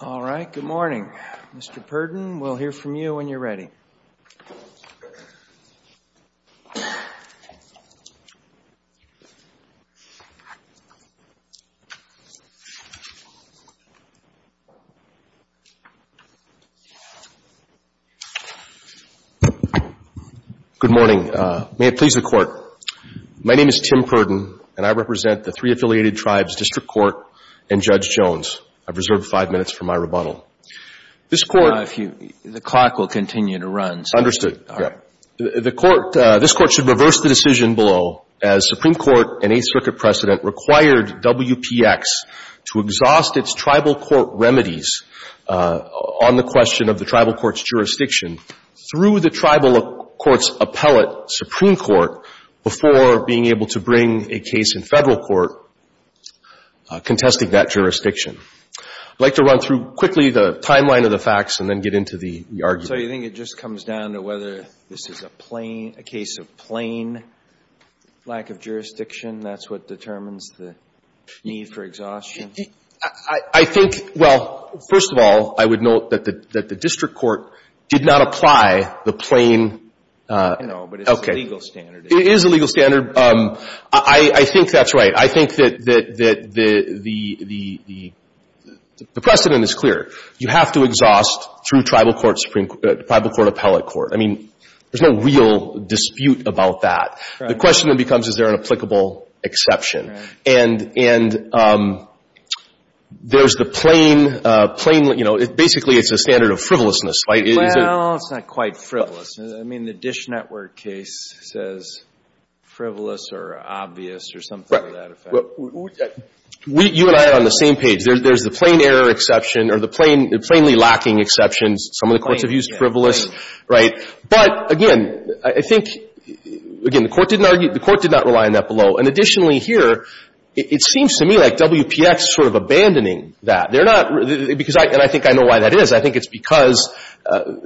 All right. Good morning. Mr. Purdon, we'll hear from you when you're ready. Good morning. May it please the Court. My name is Tim Purdon, and I represent the three I've reserved five minutes for my rebuttal. This Court Now, if you, the clock will continue to run, so Understood. All right. The Court, this Court should reverse the decision below as Supreme Court and Eighth Circuit precedent required WPX to exhaust its tribal court remedies on the question of the tribal court's jurisdiction through the tribal court's appellate Supreme Court before being able to bring a case in Federal court contesting that jurisdiction. I'd like to run through quickly the timeline of the facts and then get into the argument. So you think it just comes down to whether this is a plain, a case of plain lack of jurisdiction, that's what determines the need for exhaustion? I think, well, first of all, I would note that the District Court did not apply the plain No, but it's a legal standard. It is a legal standard. I think that's right. I think that the precedent is clear. You have to exhaust through tribal court, Supreme Court, tribal court, appellate court. I mean, there's no real dispute about that. Right. The question then becomes, is there an applicable exception? Right. And there's the plain, you know, basically, it's a standard of frivolousness, right? Well, it's not quite frivolous. I mean, the Dish Network case says frivolous or obvious or something to that effect. Right. You and I are on the same page. There's the plain error exception or the plainly lacking exceptions. Some of the courts have used frivolous, right? But again, I think, again, the court did not rely on that below. And additionally here, it seems to me like WPX is sort of abandoning that. They're not, because I think I know why that is. I think it's because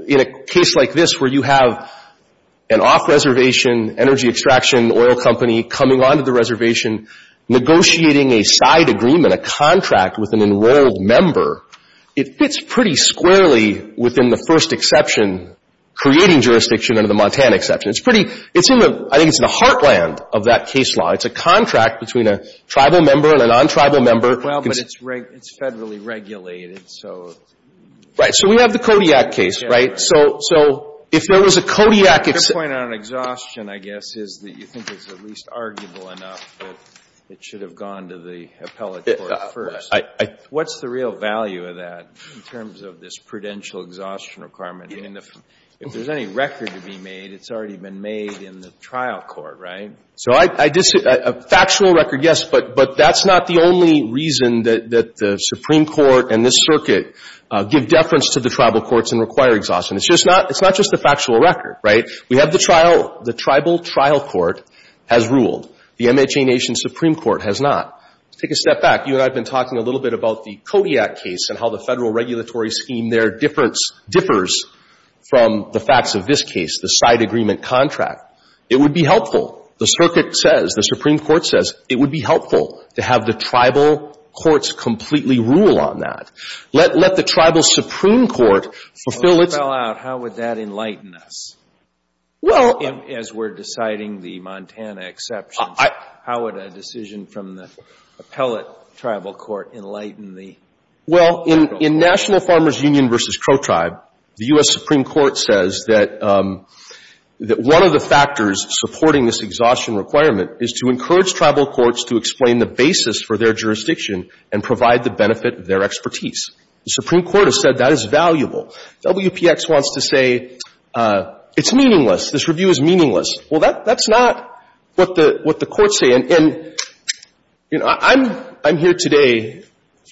in a case like this where you have an off-reservation energy extraction oil company coming onto the reservation negotiating a side agreement, a contract with an enrolled member, it fits pretty squarely within the first exception, creating jurisdiction under the Montana exception. It's pretty, it's in the, I think it's in the heartland of that case law. It's a contract between a tribal member and a non-tribal member. Well, but it's federally regulated, so. Right. So we have the Kodiak case, right? So if there was a Kodiak exception. Your point on exhaustion, I guess, is that you think it's at least arguable enough that it should have gone to the appellate court first. I, I. What's the real value of that in terms of this prudential exhaustion requirement? I mean, if there's any record to be made, it's already been made in the trial court, right? So I, I just, a factual record, yes, but, but that's not the only reason that, that the Supreme Court and this circuit give deference to the tribal courts and require exhaustion. It's just not, it's not just a factual record, right? We have the trial, the tribal trial court has ruled. The MHA Nation Supreme Court has not. Let's take a step back. You and I have been talking a little bit about the Kodiak case and how the federal regulatory scheme there differs from the facts of this case, the side agreement contract. It would be helpful, the circuit says, the Supreme Court says, it would be helpful to have the tribal courts completely rule on that. Let, let the tribal Supreme Court fulfill its. So, if it fell out, how would that enlighten us? Well. As we're deciding the Montana exception, how would a decision from the appellate tribal court enlighten the federal court? Well, as we're talking about tribe union versus pro-tribe, the U.S. Supreme Court says that, that one of the factors supporting this exhaustion requirement is to encourage tribal courts to explain the basis for their jurisdiction and provide the benefit of their expertise. The Supreme Court has said that is valuable. WPX wants to say it's meaningless. This review is meaningless. Well, that, that's not what the, what the courts say. And, and, you know, I'm, I'm here today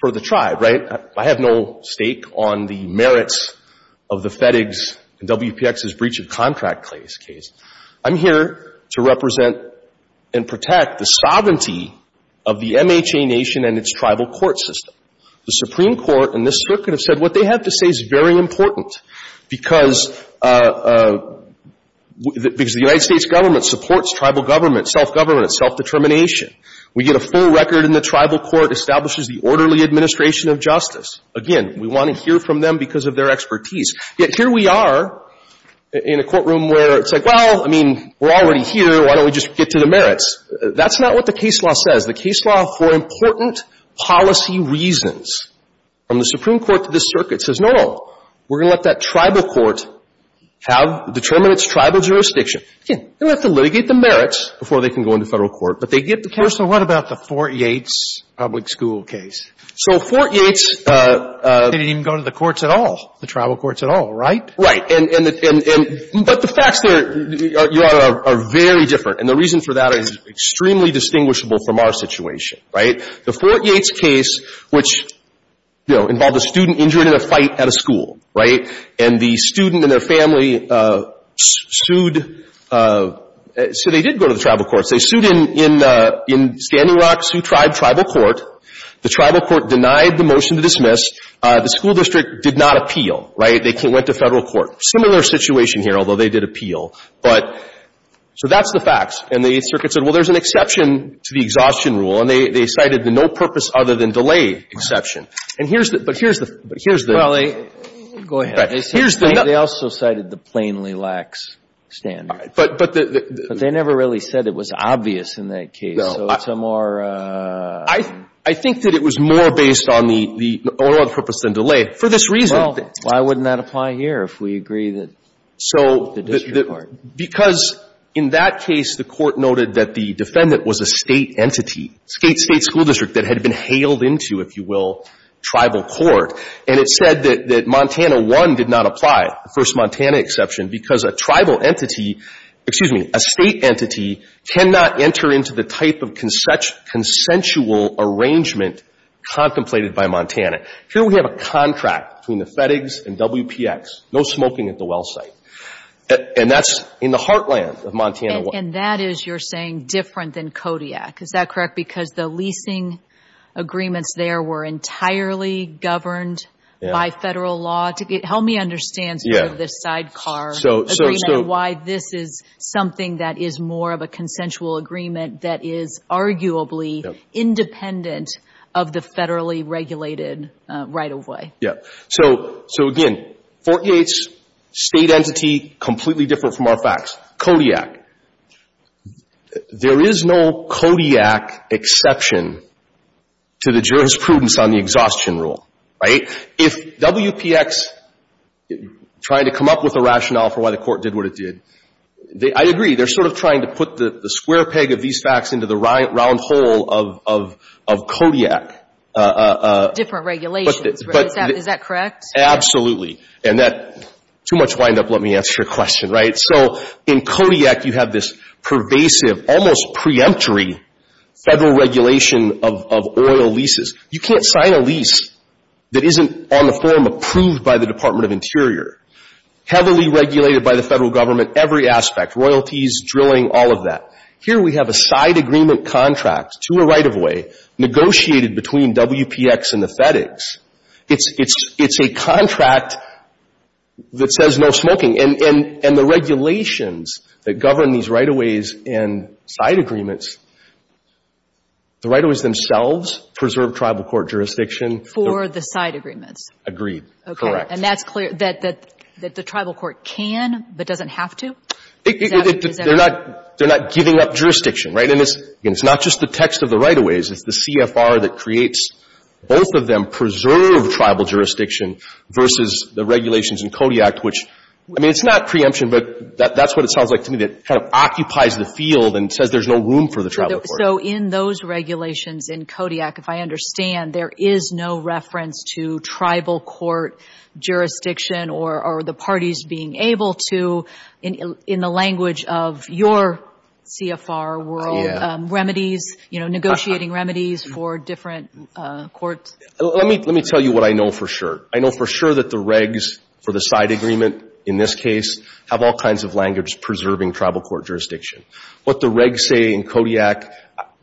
for the tribe, right? I have no stake on the merits of the FedEx and WPX's breach of contract case. I'm here to represent and protect the sovereignty of the MHA nation and its tribal court system. The Supreme Court and this circuit have said what they have to say is very important because, because the United States government supports tribal government, self-government, self-determination. We get a full record in the tribal court, establishes the orderly administration of justice. Again, we want to hear from them because of their expertise. Yet here we are in a courtroom where it's like, well, I mean, we're already here. Why don't we just get to the merits? That's not what the case law says. The case law for important policy reasons from the Supreme Court to this circuit says, no, no, we're going to let that go. So they get the merits before they can go into Federal court, but they get the case. So what about the Fort Yates public school case? So Fort Yates. They didn't even go to the courts at all, the tribal courts at all, right? Right. And, and, and, but the facts there are, are very different. And the reason for that is extremely distinguishable from our situation, right? The Fort Yates case, which, you know, involved a student injured in a fight at a school, right? And the student and their family sued. So they did go to the tribal courts. They sued in, in Standing Rock, sued tribal court. The tribal court denied the motion to dismiss. The school district did not appeal, right? They went to Federal court. Similar situation here, although they did appeal. But, so that's the facts. And the circuit said, well, there's an exception to the exhaustion rule, and they, they cited the no purpose other than delay exception. And here's the, but here's the, but here's the. Well, they, go ahead. Right. Here's the. They also cited the plainly lax standard. But, but the. But they never really said it was obvious in that case. No. So it's a more. I, I think that it was more based on the, the, on purpose than delay for this reason. Well, why wouldn't that apply here if we agree that the district court. So, because in that case, the Court noted that the defendant was a State entity, State, State school district that had been hailed into, if you will, tribal court. And it said that, that Montana 1 did not apply, the first Montana exception, because a tribal entity, excuse me, a State entity cannot enter into the type of consensual arrangement contemplated by Montana. Here we have a contract between the FedEx and WPX, no smoking at the well site. And that's in the heartland of Montana 1. And that is, you're saying, different than Kodiak. Is that correct? Because the leasing agreements there were entirely governed by Federal law. Help me understand sort of the sidecar agreement. Why this is something that is more of a consensual agreement that is arguably independent of the Federally regulated right of way. Yeah. So, so again, Fort Yates, State entity, completely different from our facts. Kodiak. There is no Kodiak exception to the jurisprudence on the exhaustion rule. Right? If WPX tried to come up with a rationale for why the court did what it did, I agree, they're sort of trying to put the square peg of these facts into the round hole of Kodiak. Different regulations. Is that correct? Absolutely. And that, too much wind up, let me answer your question. Right? So, in Kodiak, you have this pervasive, almost preemptory Federal regulation of oil leases. You can't sign a lease that isn't on the form approved by the Department of Interior. Heavily regulated by the Federal Government, every aspect, royalties, drilling, all of that. Here we have a side agreement contract to a right of way, negotiated between WPX and the FedEx. It's a contract that says no smoking. And the regulations that govern these right of ways and side agreements, the right of ways themselves preserve tribal court jurisdiction. For the side agreements. Agreed. Correct. Okay. And that's clear, that the tribal court can but doesn't have to? They're not giving up jurisdiction. Right? And it's not just the text of the right of ways. It's the CFR that creates both of them preserve tribal jurisdiction versus the regulations in Kodiak, which, I mean, it's not preemption, but that's what it sounds like to me, that kind of occupies the field and says there's no room for the tribal court. So in those regulations in Kodiak, if I understand, there is no reference to tribal court jurisdiction or the parties being able to, in the language of your CFR world, remedies, you know, negotiating remedies for different courts? Let me tell you what I know for sure. I know for sure that the regs for the side agreement in this case have all kinds of language preserving tribal court jurisdiction. What the regs say in Kodiak,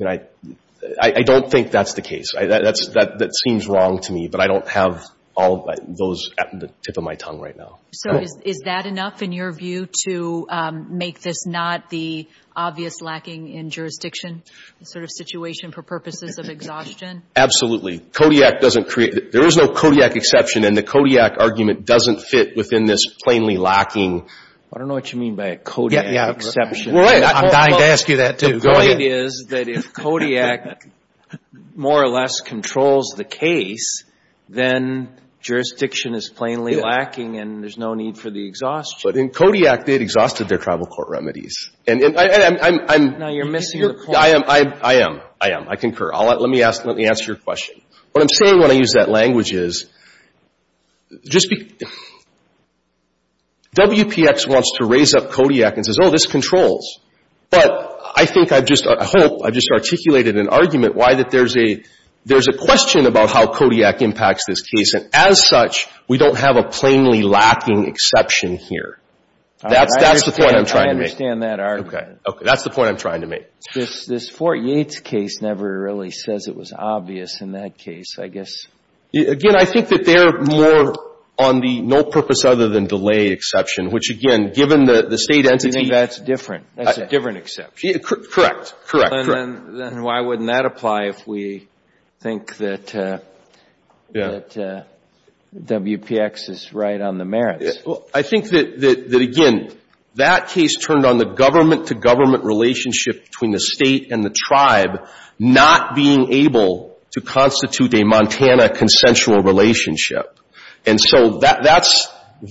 I don't think that's the case. That seems wrong to me, but I don't have all those at the tip of my tongue right now. So is that enough in your view to make this not the obvious lacking in jurisdiction sort of situation for purposes of exhaustion? Absolutely. Kodiak doesn't create — there is no Kodiak exception, and the Kodiak argument doesn't fit within this plainly lacking. I don't know what you mean by a Kodiak exception. I'm dying to ask you that, too. Go ahead. The point is that if Kodiak more or less controls the case, then jurisdiction is plainly lacking and there's no need for the exhaustion. But in Kodiak, they had exhausted their tribal court remedies. And I'm — No, you're missing the point. I am. I am. I am. I'm not a lawyer. Let me ask — let me answer your question. What I'm saying when I use that language is just be — WPX wants to raise up Kodiak and says, oh, this controls. But I think I've just — I hope I've just articulated an argument why that there's a question about how Kodiak impacts this case. And as such, we don't have a plainly lacking exception here. That's the point I'm trying to make. I understand that argument. Okay. That's the point I'm trying to make. This Fort Yates case never really says it was obvious in that case, I guess. Again, I think that they're more on the no-purpose-other-than-delay exception, which, again, given the State entity — I think that's different. That's a different exception. Correct. Correct. Then why wouldn't that apply if we think that WPX is right on the merits? Well, I think that, again, that case turned on the government-to-government relationship between the State and the tribe not being able to constitute a Montana consensual relationship. And so that's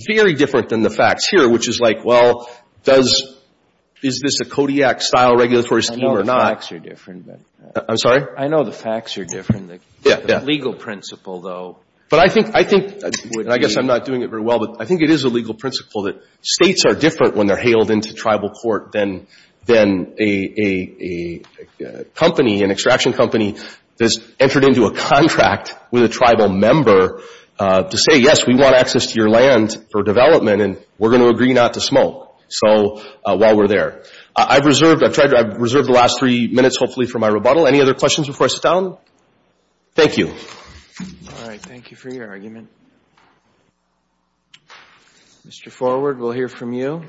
very different than the facts here, which is like, well, does — is this a Kodiak-style regulatory scheme or not? I know the facts are different. I'm sorry? I know the facts are different. Yeah, yeah. The legal principle, though, would be — I think — and I guess I'm not doing it very well, but I think it is a legal principle that States are different when they're hailed into tribal court than a company, an extraction company that's entered into a contract with a tribal member to say, yes, we want access to your land for development and we're going to agree not to smoke while we're there. I've reserved the last three minutes, hopefully, for my rebuttal. Any other questions before I sit down? Thank you. All right. Thank you for your argument. Mr. Forward, we'll hear from you.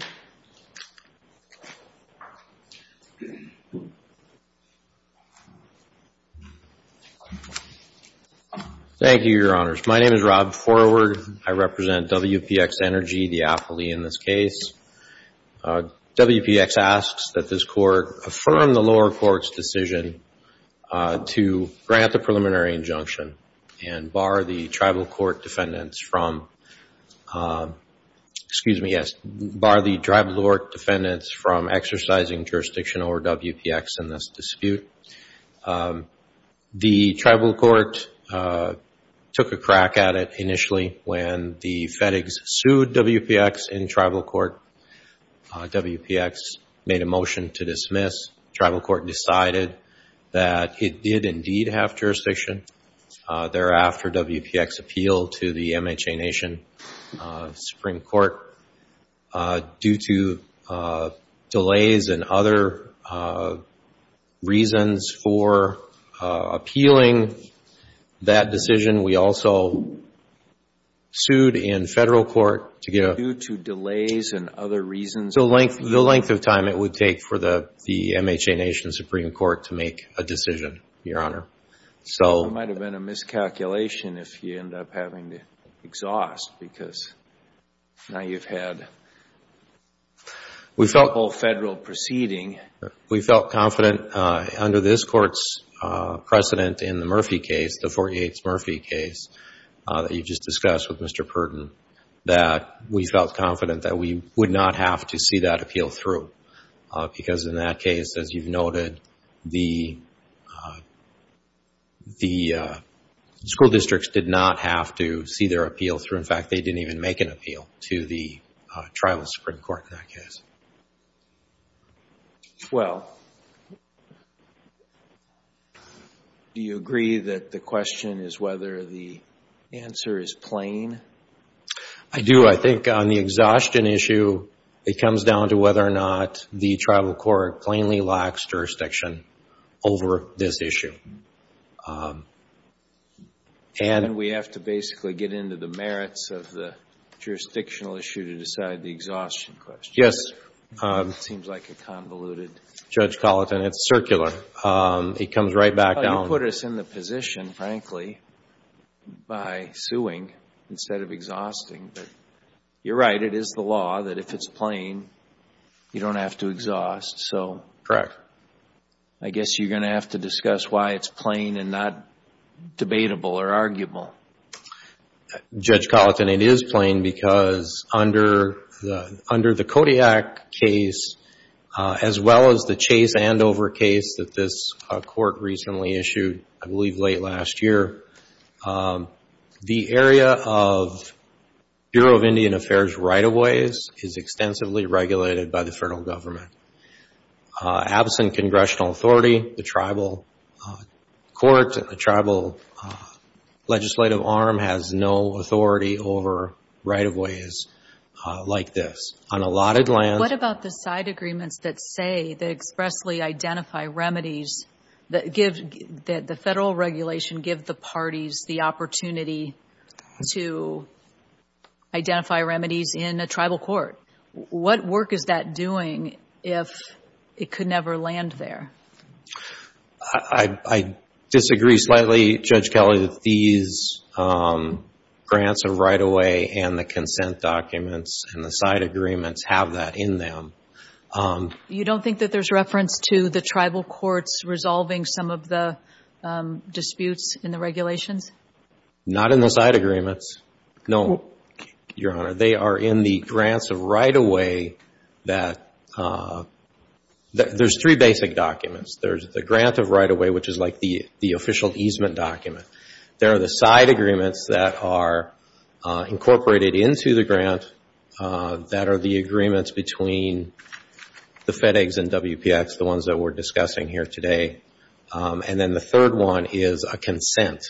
Thank you, Your Honors. My name is Rob Forward. I represent WPX Energy, the affilee in this case. WPX asks that this court affirm the lower court's decision to grant the preliminary injunction and bar the tribal court defendants from — excuse me, yes, bar the tribal court defendants from exercising jurisdiction over WPX in this dispute. The tribal court took a crack at it initially when the FedEx sued WPX in tribal court. WPX made a motion to dismiss. Tribal court decided that it did indeed have jurisdiction. Thereafter, WPX appealed to the MHA Nation Supreme Court. Due to delays and other reasons for appealing that decision, we also sued in federal court. Due to delays and other reasons? The length of time it would take for the MHA Nation Supreme Court to make a decision, Your Honor. It might have been a miscalculation if you end up having to exhaust, because now you've had a whole federal proceeding. We felt confident under this court's precedent in the Murphy case, the 48th Murphy case, that you just discussed with Mr. Purdon, that we felt confident that we would not have to see that appeal through. Because in that case, as you've noted, the school districts did not have to see their appeal through. In fact, they didn't even make an appeal to the tribal Supreme Court in that case. Do you agree that the question is whether the answer is plain? I do. I think on the exhaustion issue, it comes down to whether or not the tribal court plainly lacks jurisdiction over this issue. And we have to basically get into the merits of the jurisdictional issue to decide the exhaustion question. Yes. It seems like a convoluted. Judge Colleton, it's circular. It comes right back down. You put us in the position, frankly, by suing instead of exhausting. You're right. It is the law that if it's plain, you don't have to exhaust. Correct. I guess you're going to have to discuss why it's plain and not debatable or arguable. Judge Colleton, it is plain because under the Kodiak case, as well as the Chase-Andover case that this court recently issued, I believe late last year, the area of Bureau of Indian Affairs right-of-ways is extensively regulated by the federal government. Absent congressional authority, the tribal court and the tribal legislative arm has no authority over right-of-ways like this. What about the side agreements that say, that expressly identify remedies, that the federal regulation give the parties the opportunity to identify remedies in a tribal court? What work is that doing if it could never land there? I disagree slightly, Judge Kelly, that these grants of right-of-way and the consent documents and the side agreements have that in them. You don't think that there's reference to the tribal courts resolving some of the disputes in the regulations? Not in the side agreements. No, Your Honor. They are in the grants of right-of-way that, there's three basic documents. There's the grant of right-of-way, which is like the official easement document. There are the side agreements that are incorporated into the grant that are the agreements between the FedEx and WPX, the ones that we're discussing here today. And then the third one is a consent.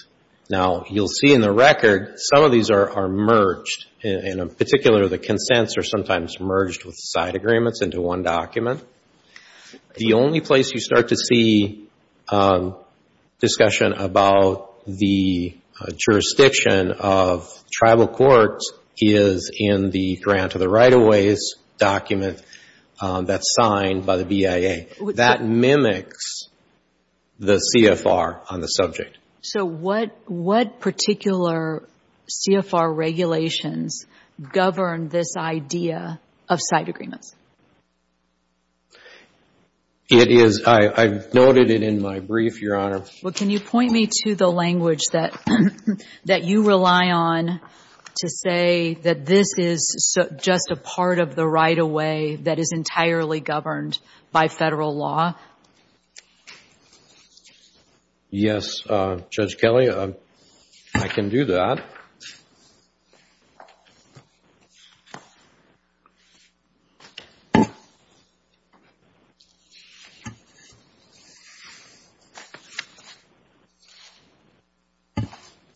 Now, you'll see in the record, some of these are merged. In particular, the consents are sometimes merged with the side agreements into one document. The only place you start to see discussion about the jurisdiction of tribal courts is in the grant of the right-of-ways document that's signed by the BIA. That mimics the CFR on the subject. So what particular CFR regulations govern this idea of side agreements? It is, I noted it in my brief, Your Honor. Well, can you point me to the language that you rely on to say that this is just a part of the right-of-way that is entirely governed by federal law? Yes, Judge Kelley, I can do that.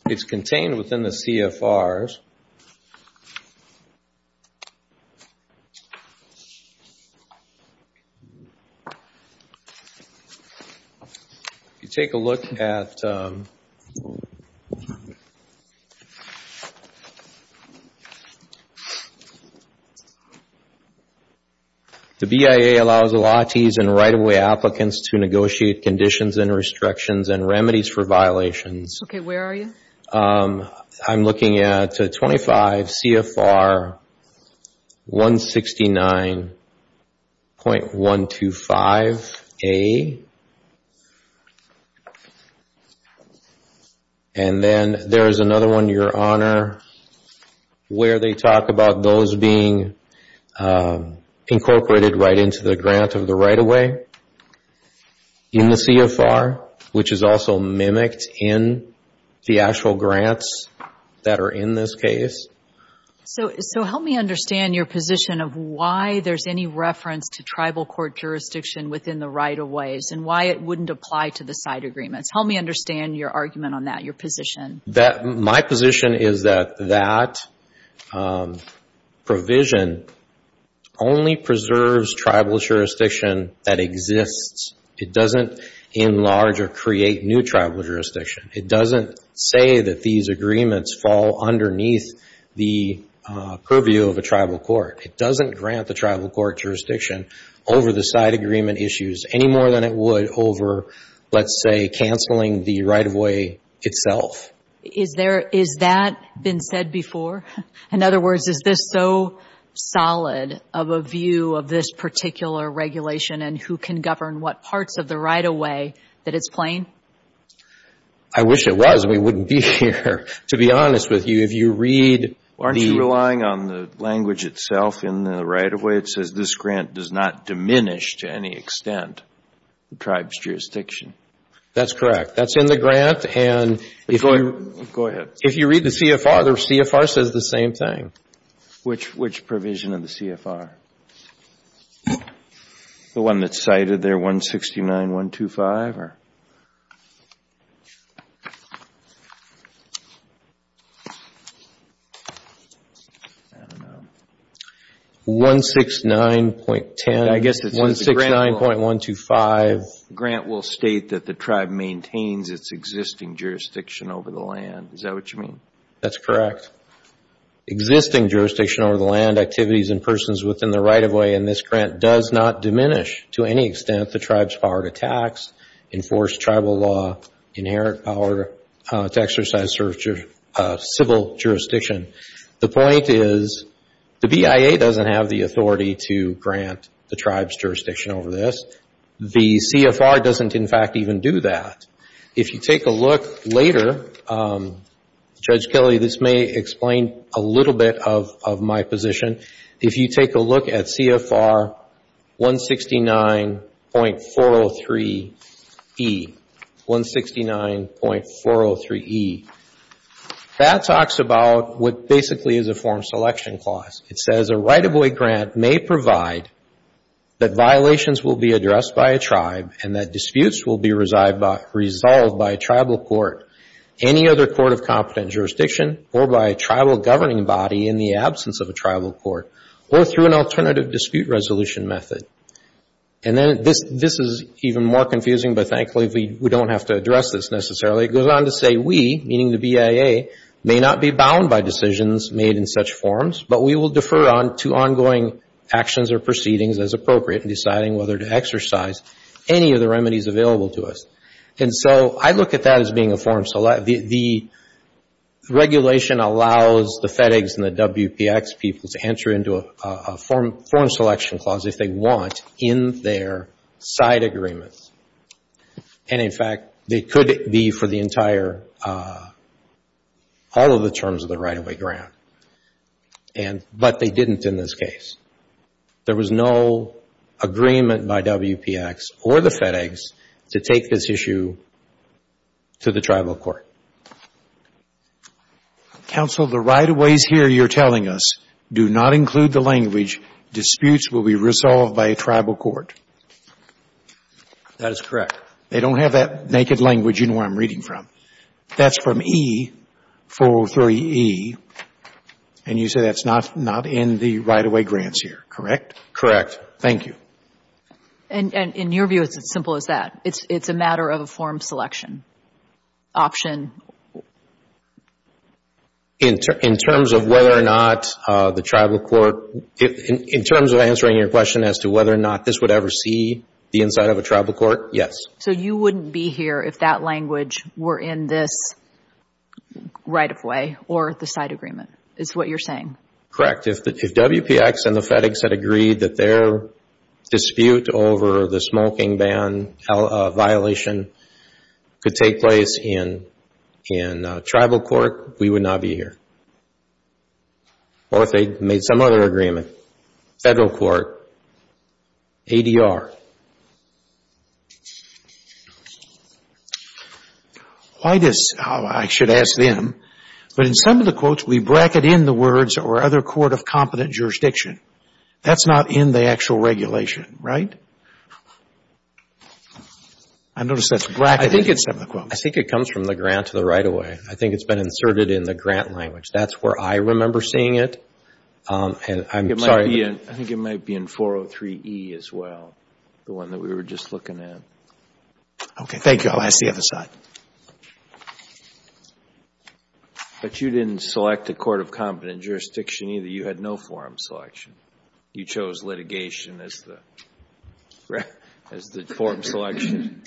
It's contained within the CFRs. If you take a look at... The BIA allows a lot of right-of-way applicants to negotiate conditions and restrictions and remedies for violations. Okay, where are you? I'm looking at 25 CFR 169.125A. And then there's another one, Your Honor, where they talk about those being incorporated right into the grant of the right-of-way in the CFR, which is also mimicked in the actual grants that are in this case. So help me understand your position of why there's any reference to tribal court jurisdiction within the right-of-ways, and why it wouldn't apply to the side agreements. Help me understand your argument on that, your position. My position is that that provision only preserves tribal jurisdiction that exists. It doesn't enlarge or create new tribal jurisdiction. It doesn't say that these agreements fall underneath the purview of a tribal court. It doesn't grant the tribal court jurisdiction over the side agreement issues any more than it would over, let's say, canceling the right-of-way itself. Is that been said before? In other words, is this so solid of a view of this particular regulation, and who can govern what parts of the right-of-way that it's playing? I wish it was. We wouldn't be here, to be honest with you. Aren't you relying on the language itself in the right-of-way? It says this grant does not diminish to any extent the tribe's jurisdiction. That's correct. That's in the grant, and if you read the CFR, the CFR says the same thing. Which provision of the CFR? The one that's cited there, 169.125? I don't know. I guess it says the grant will state that the tribe maintains its existing jurisdiction over the land. Is that what you mean? That's correct. Existing jurisdiction over the land, activities and persons within the right-of-way, and this grant does not diminish to any extent the tribe's power to tax, enforce tribal law, inherit power to exercise civil jurisdiction. The point is the BIA doesn't have the authority to grant the tribe's jurisdiction over this. The CFR doesn't, in fact, even do that. If you take a look later, Judge Kelly, this may explain a little bit of my position. If you take a look at CFR 169.403E, that talks about what basically is a form selection clause. It says a right-of-way grant may provide that violations will be addressed by a tribe and that disputes will be resolved by a tribal court, any other court of competent jurisdiction, or by a tribal governing body in the absence of a tribal court, or through an alternative dispute resolution method. And then this is even more confusing, but thankfully we don't have to address this necessarily. It goes on to say we, meaning the BIA, may not be bound by decisions made in such forms, but we will defer on to ongoing actions or proceedings as appropriate in deciding whether to exercise any of the remedies available to us. And so I look at that as being a form selection. The regulation allows the FedEx and the WPX people to enter into a form selection clause if they want in their side agreements. And, in fact, they could be for the entire, all of the terms of the right-of-way grant, but they didn't in this case. There was no agreement by WPX or the FedEx to take this issue to the tribal court. Counsel, the right-of-ways here you're telling us do not include the language, disputes will be resolved by a tribal court. That is correct. They don't have that naked language you know where I'm reading from. That's from E-403-E, and you say that's not in the right-of-way grants here, correct? Correct. Thank you. And in your view, it's as simple as that. It's a matter of a form selection option. In terms of whether or not the tribal court, in terms of answering your question as to whether or not this would ever see the inside of a tribal court, yes. So you wouldn't be here if that language were in this right-of-way or the side agreement is what you're saying? Correct. If WPX and the FedEx had agreed that their dispute over the smoking ban violation could take place in tribal court, we would not be here. Or if they made some other agreement, federal court, ADR. Why does, I should ask them, but in some of the quotes we bracket in the words or other court of competent jurisdiction. That's not in the actual regulation, right? I notice that's bracketed in some of the quotes. I think it comes from the grant to the right-of-way. I think it's been inserted in the grant language. That's where I remember seeing it. I'm sorry. I think it might be in 403E as well, the one that we were just looking at. Okay. Thank you. I'll ask the other side. But you didn't select a court of competent jurisdiction either. You had no form selection. You chose litigation as the form selection.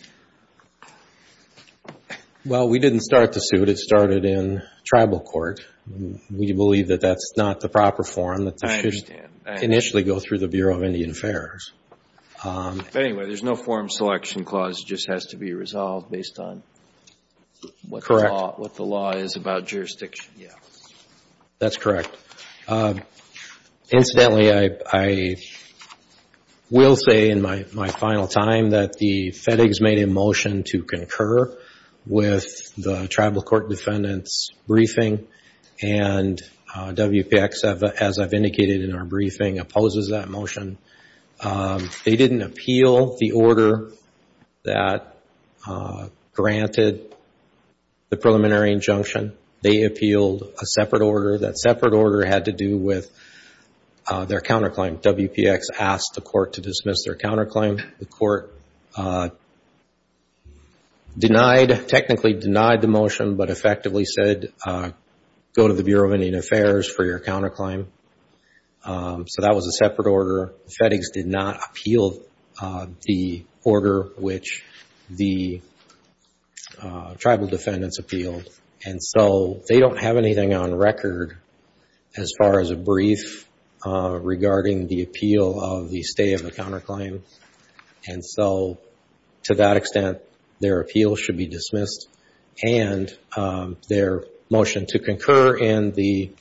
Well, we didn't start the suit. It started in tribal court. We believe that that's not the proper form that should initially go through the Bureau of Indian Affairs. Anyway, there's no form selection clause. It just has to be resolved based on what the law is about jurisdiction. That's correct. Incidentally, I will say in my final time that the FedEx made a motion to concur with the tribal court defendant's briefing, and WPX, as I've indicated in our briefing, opposes that motion. They didn't appeal the order that granted the preliminary injunction. They appealed a separate order. That separate order had to do with their counterclaim. WPX asked the court to dismiss their counterclaim. The court technically denied the motion but effectively said, go to the Bureau of Indian Affairs for your counterclaim. So that was a separate order. The FedEx did not appeal the order which the tribal defendants appealed. They don't have anything on record as far as a brief regarding the appeal of the stay of the counterclaim. So to that extent, their appeal should be dismissed, and their motion to concur in the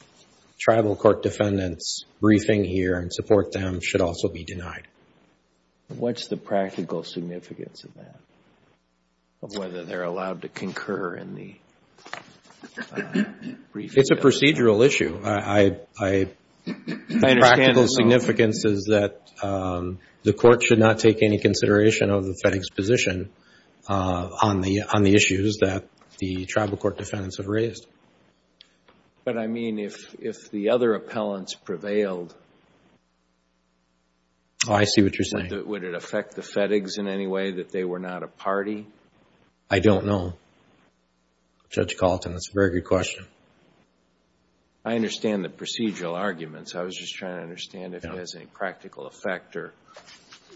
tribal court defendant's briefing here and support them should also be denied. What's the practical significance of that, of whether they're allowed to concur in the briefing? It's a procedural issue. The practical significance is that the court should not take any consideration of the FedEx position on the issues that the tribal court defendants have raised. But I mean, if the other appellants prevailed, would it affect the FedEx in any way that they were not a party? I don't know, Judge Kalten. That's a very good question. I understand the procedural arguments. I was just trying to understand if it has any practical effect or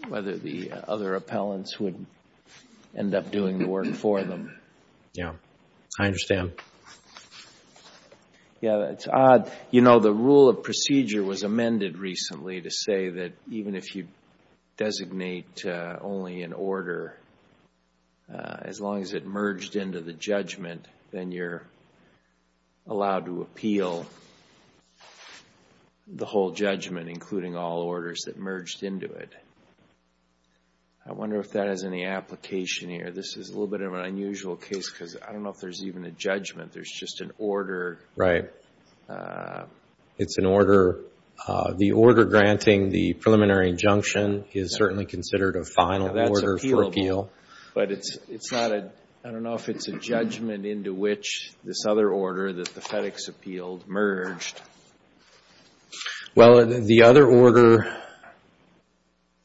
whether the other appellants would end up doing the work for them. Yeah, I understand. Yeah, it's odd. You know, the rule of procedure was amended recently to say that even if you designate only an order, as long as it merged into the judgment, then you're allowed to appeal the whole judgment, including all orders that merged into it. I wonder if that has any application here. This is a little bit of an unusual case because I don't know if there's even a judgment. There's just an order. Right. It's an order. The order granting the preliminary injunction is certainly considered a final order for appeal. But it's not a – I don't know if it's a judgment into which this other order that the FedEx appealed merged. Well, the other order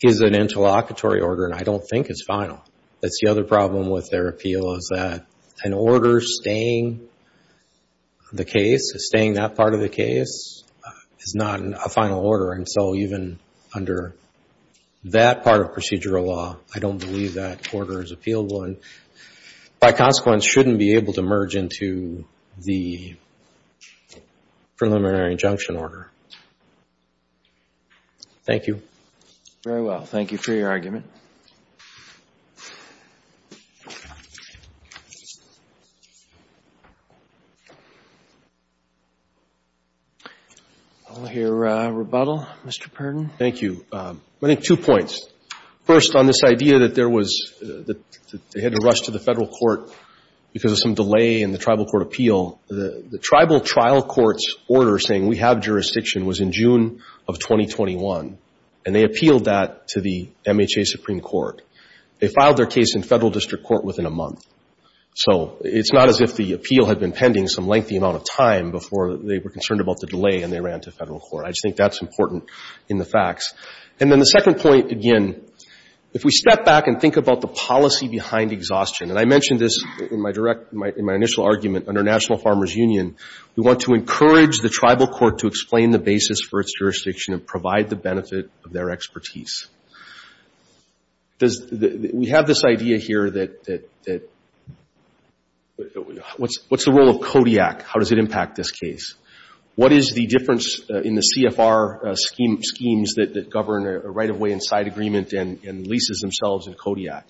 is an interlocutory order, and I don't think it's final. That's the other problem with their appeal is that an order staying the case, staying that part of the case, is not a final order. And so even under that part of procedural law, I don't believe that order is appealable and, by consequence, shouldn't be able to merge into the preliminary injunction order. Thank you. Very well. Thank you for your argument. I'll hear a rebuttal. Mr. Perdon. Thank you. I think two points. First, on this idea that there was – that they had to rush to the Federal court because of some delay in the tribal court appeal, the tribal trial court's order saying we have jurisdiction was in June of 2021. And they appealed that to the MHA Supreme Court. They filed their case in Federal district court within a month. So it's not as if the appeal had been pending some lengthy amount of time before they were concerned about the delay and they ran to Federal court. I just think that's important in the facts. And then the second point, again, if we step back and think about the policy behind exhaustion, and I mentioned this in my direct – in my initial argument under National Farmers Union, we want to encourage the tribal court to explain the basis for its jurisdiction and provide the benefit of their expertise. Does – we have this idea here that – what's the role of CODIAC? How does it impact this case? What is the difference in the CFR schemes that govern a right-of-way and side agreement and leases themselves in CODIAC?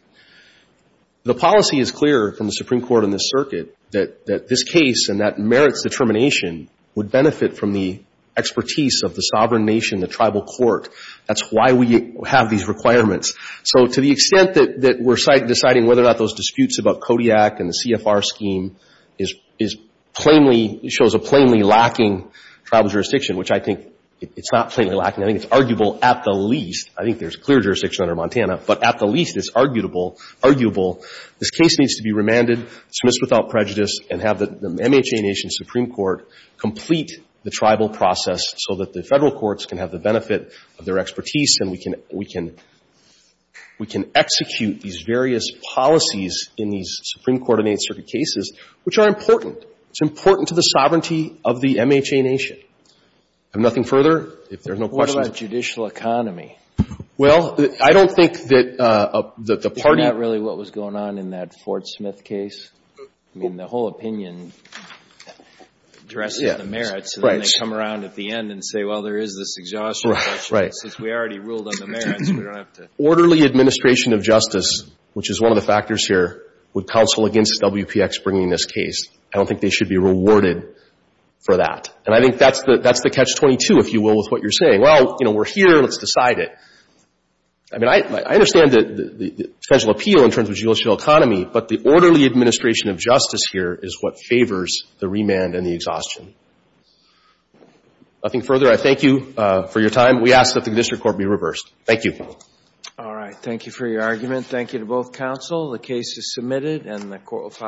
The policy is clear from the Supreme Court and the circuit that this case and that merits determination would benefit from the expertise of the sovereign nation, the tribal court. That's why we have these requirements. So to the extent that we're deciding whether or not those disputes about CODIAC and the CFR scheme is plainly – shows a plainly lacking tribal jurisdiction, which I think it's not plainly lacking. I think it's arguable at the least. I think there's clear jurisdiction under Montana, but at the least it's arguable. This case needs to be remanded, dismissed without prejudice, and have the MHA Nation Supreme Court complete the tribal process so that the federal courts can have the benefit of their expertise and we can execute these various policies in these Supreme Court and Eighth Circuit cases, which are important. It's important to the sovereignty of the MHA Nation. Have nothing further? If there's no questions. But what about judicial economy? Well, I don't think that the party – Is that really what was going on in that Fort Smith case? I mean, the whole opinion addresses the merits, and then they come around at the end and say, well, there is this exhaustion. Right. Since we already ruled on the merits, we don't have to – Orderly administration of justice, which is one of the factors here, would counsel against WPX bringing this case. I don't think they should be rewarded for that. And I think that's the catch-22, if you will, with what you're saying. Well, you know, we're here. Let's decide it. I mean, I understand the federal appeal in terms of judicial economy, but the orderly administration of justice here is what favors the remand and the exhaustion. Nothing further? I thank you for your time. We ask that the district court be reversed. Thank you. All right. Thank you for your argument. Thank you to both counsel. The case is submitted, and the court will follow.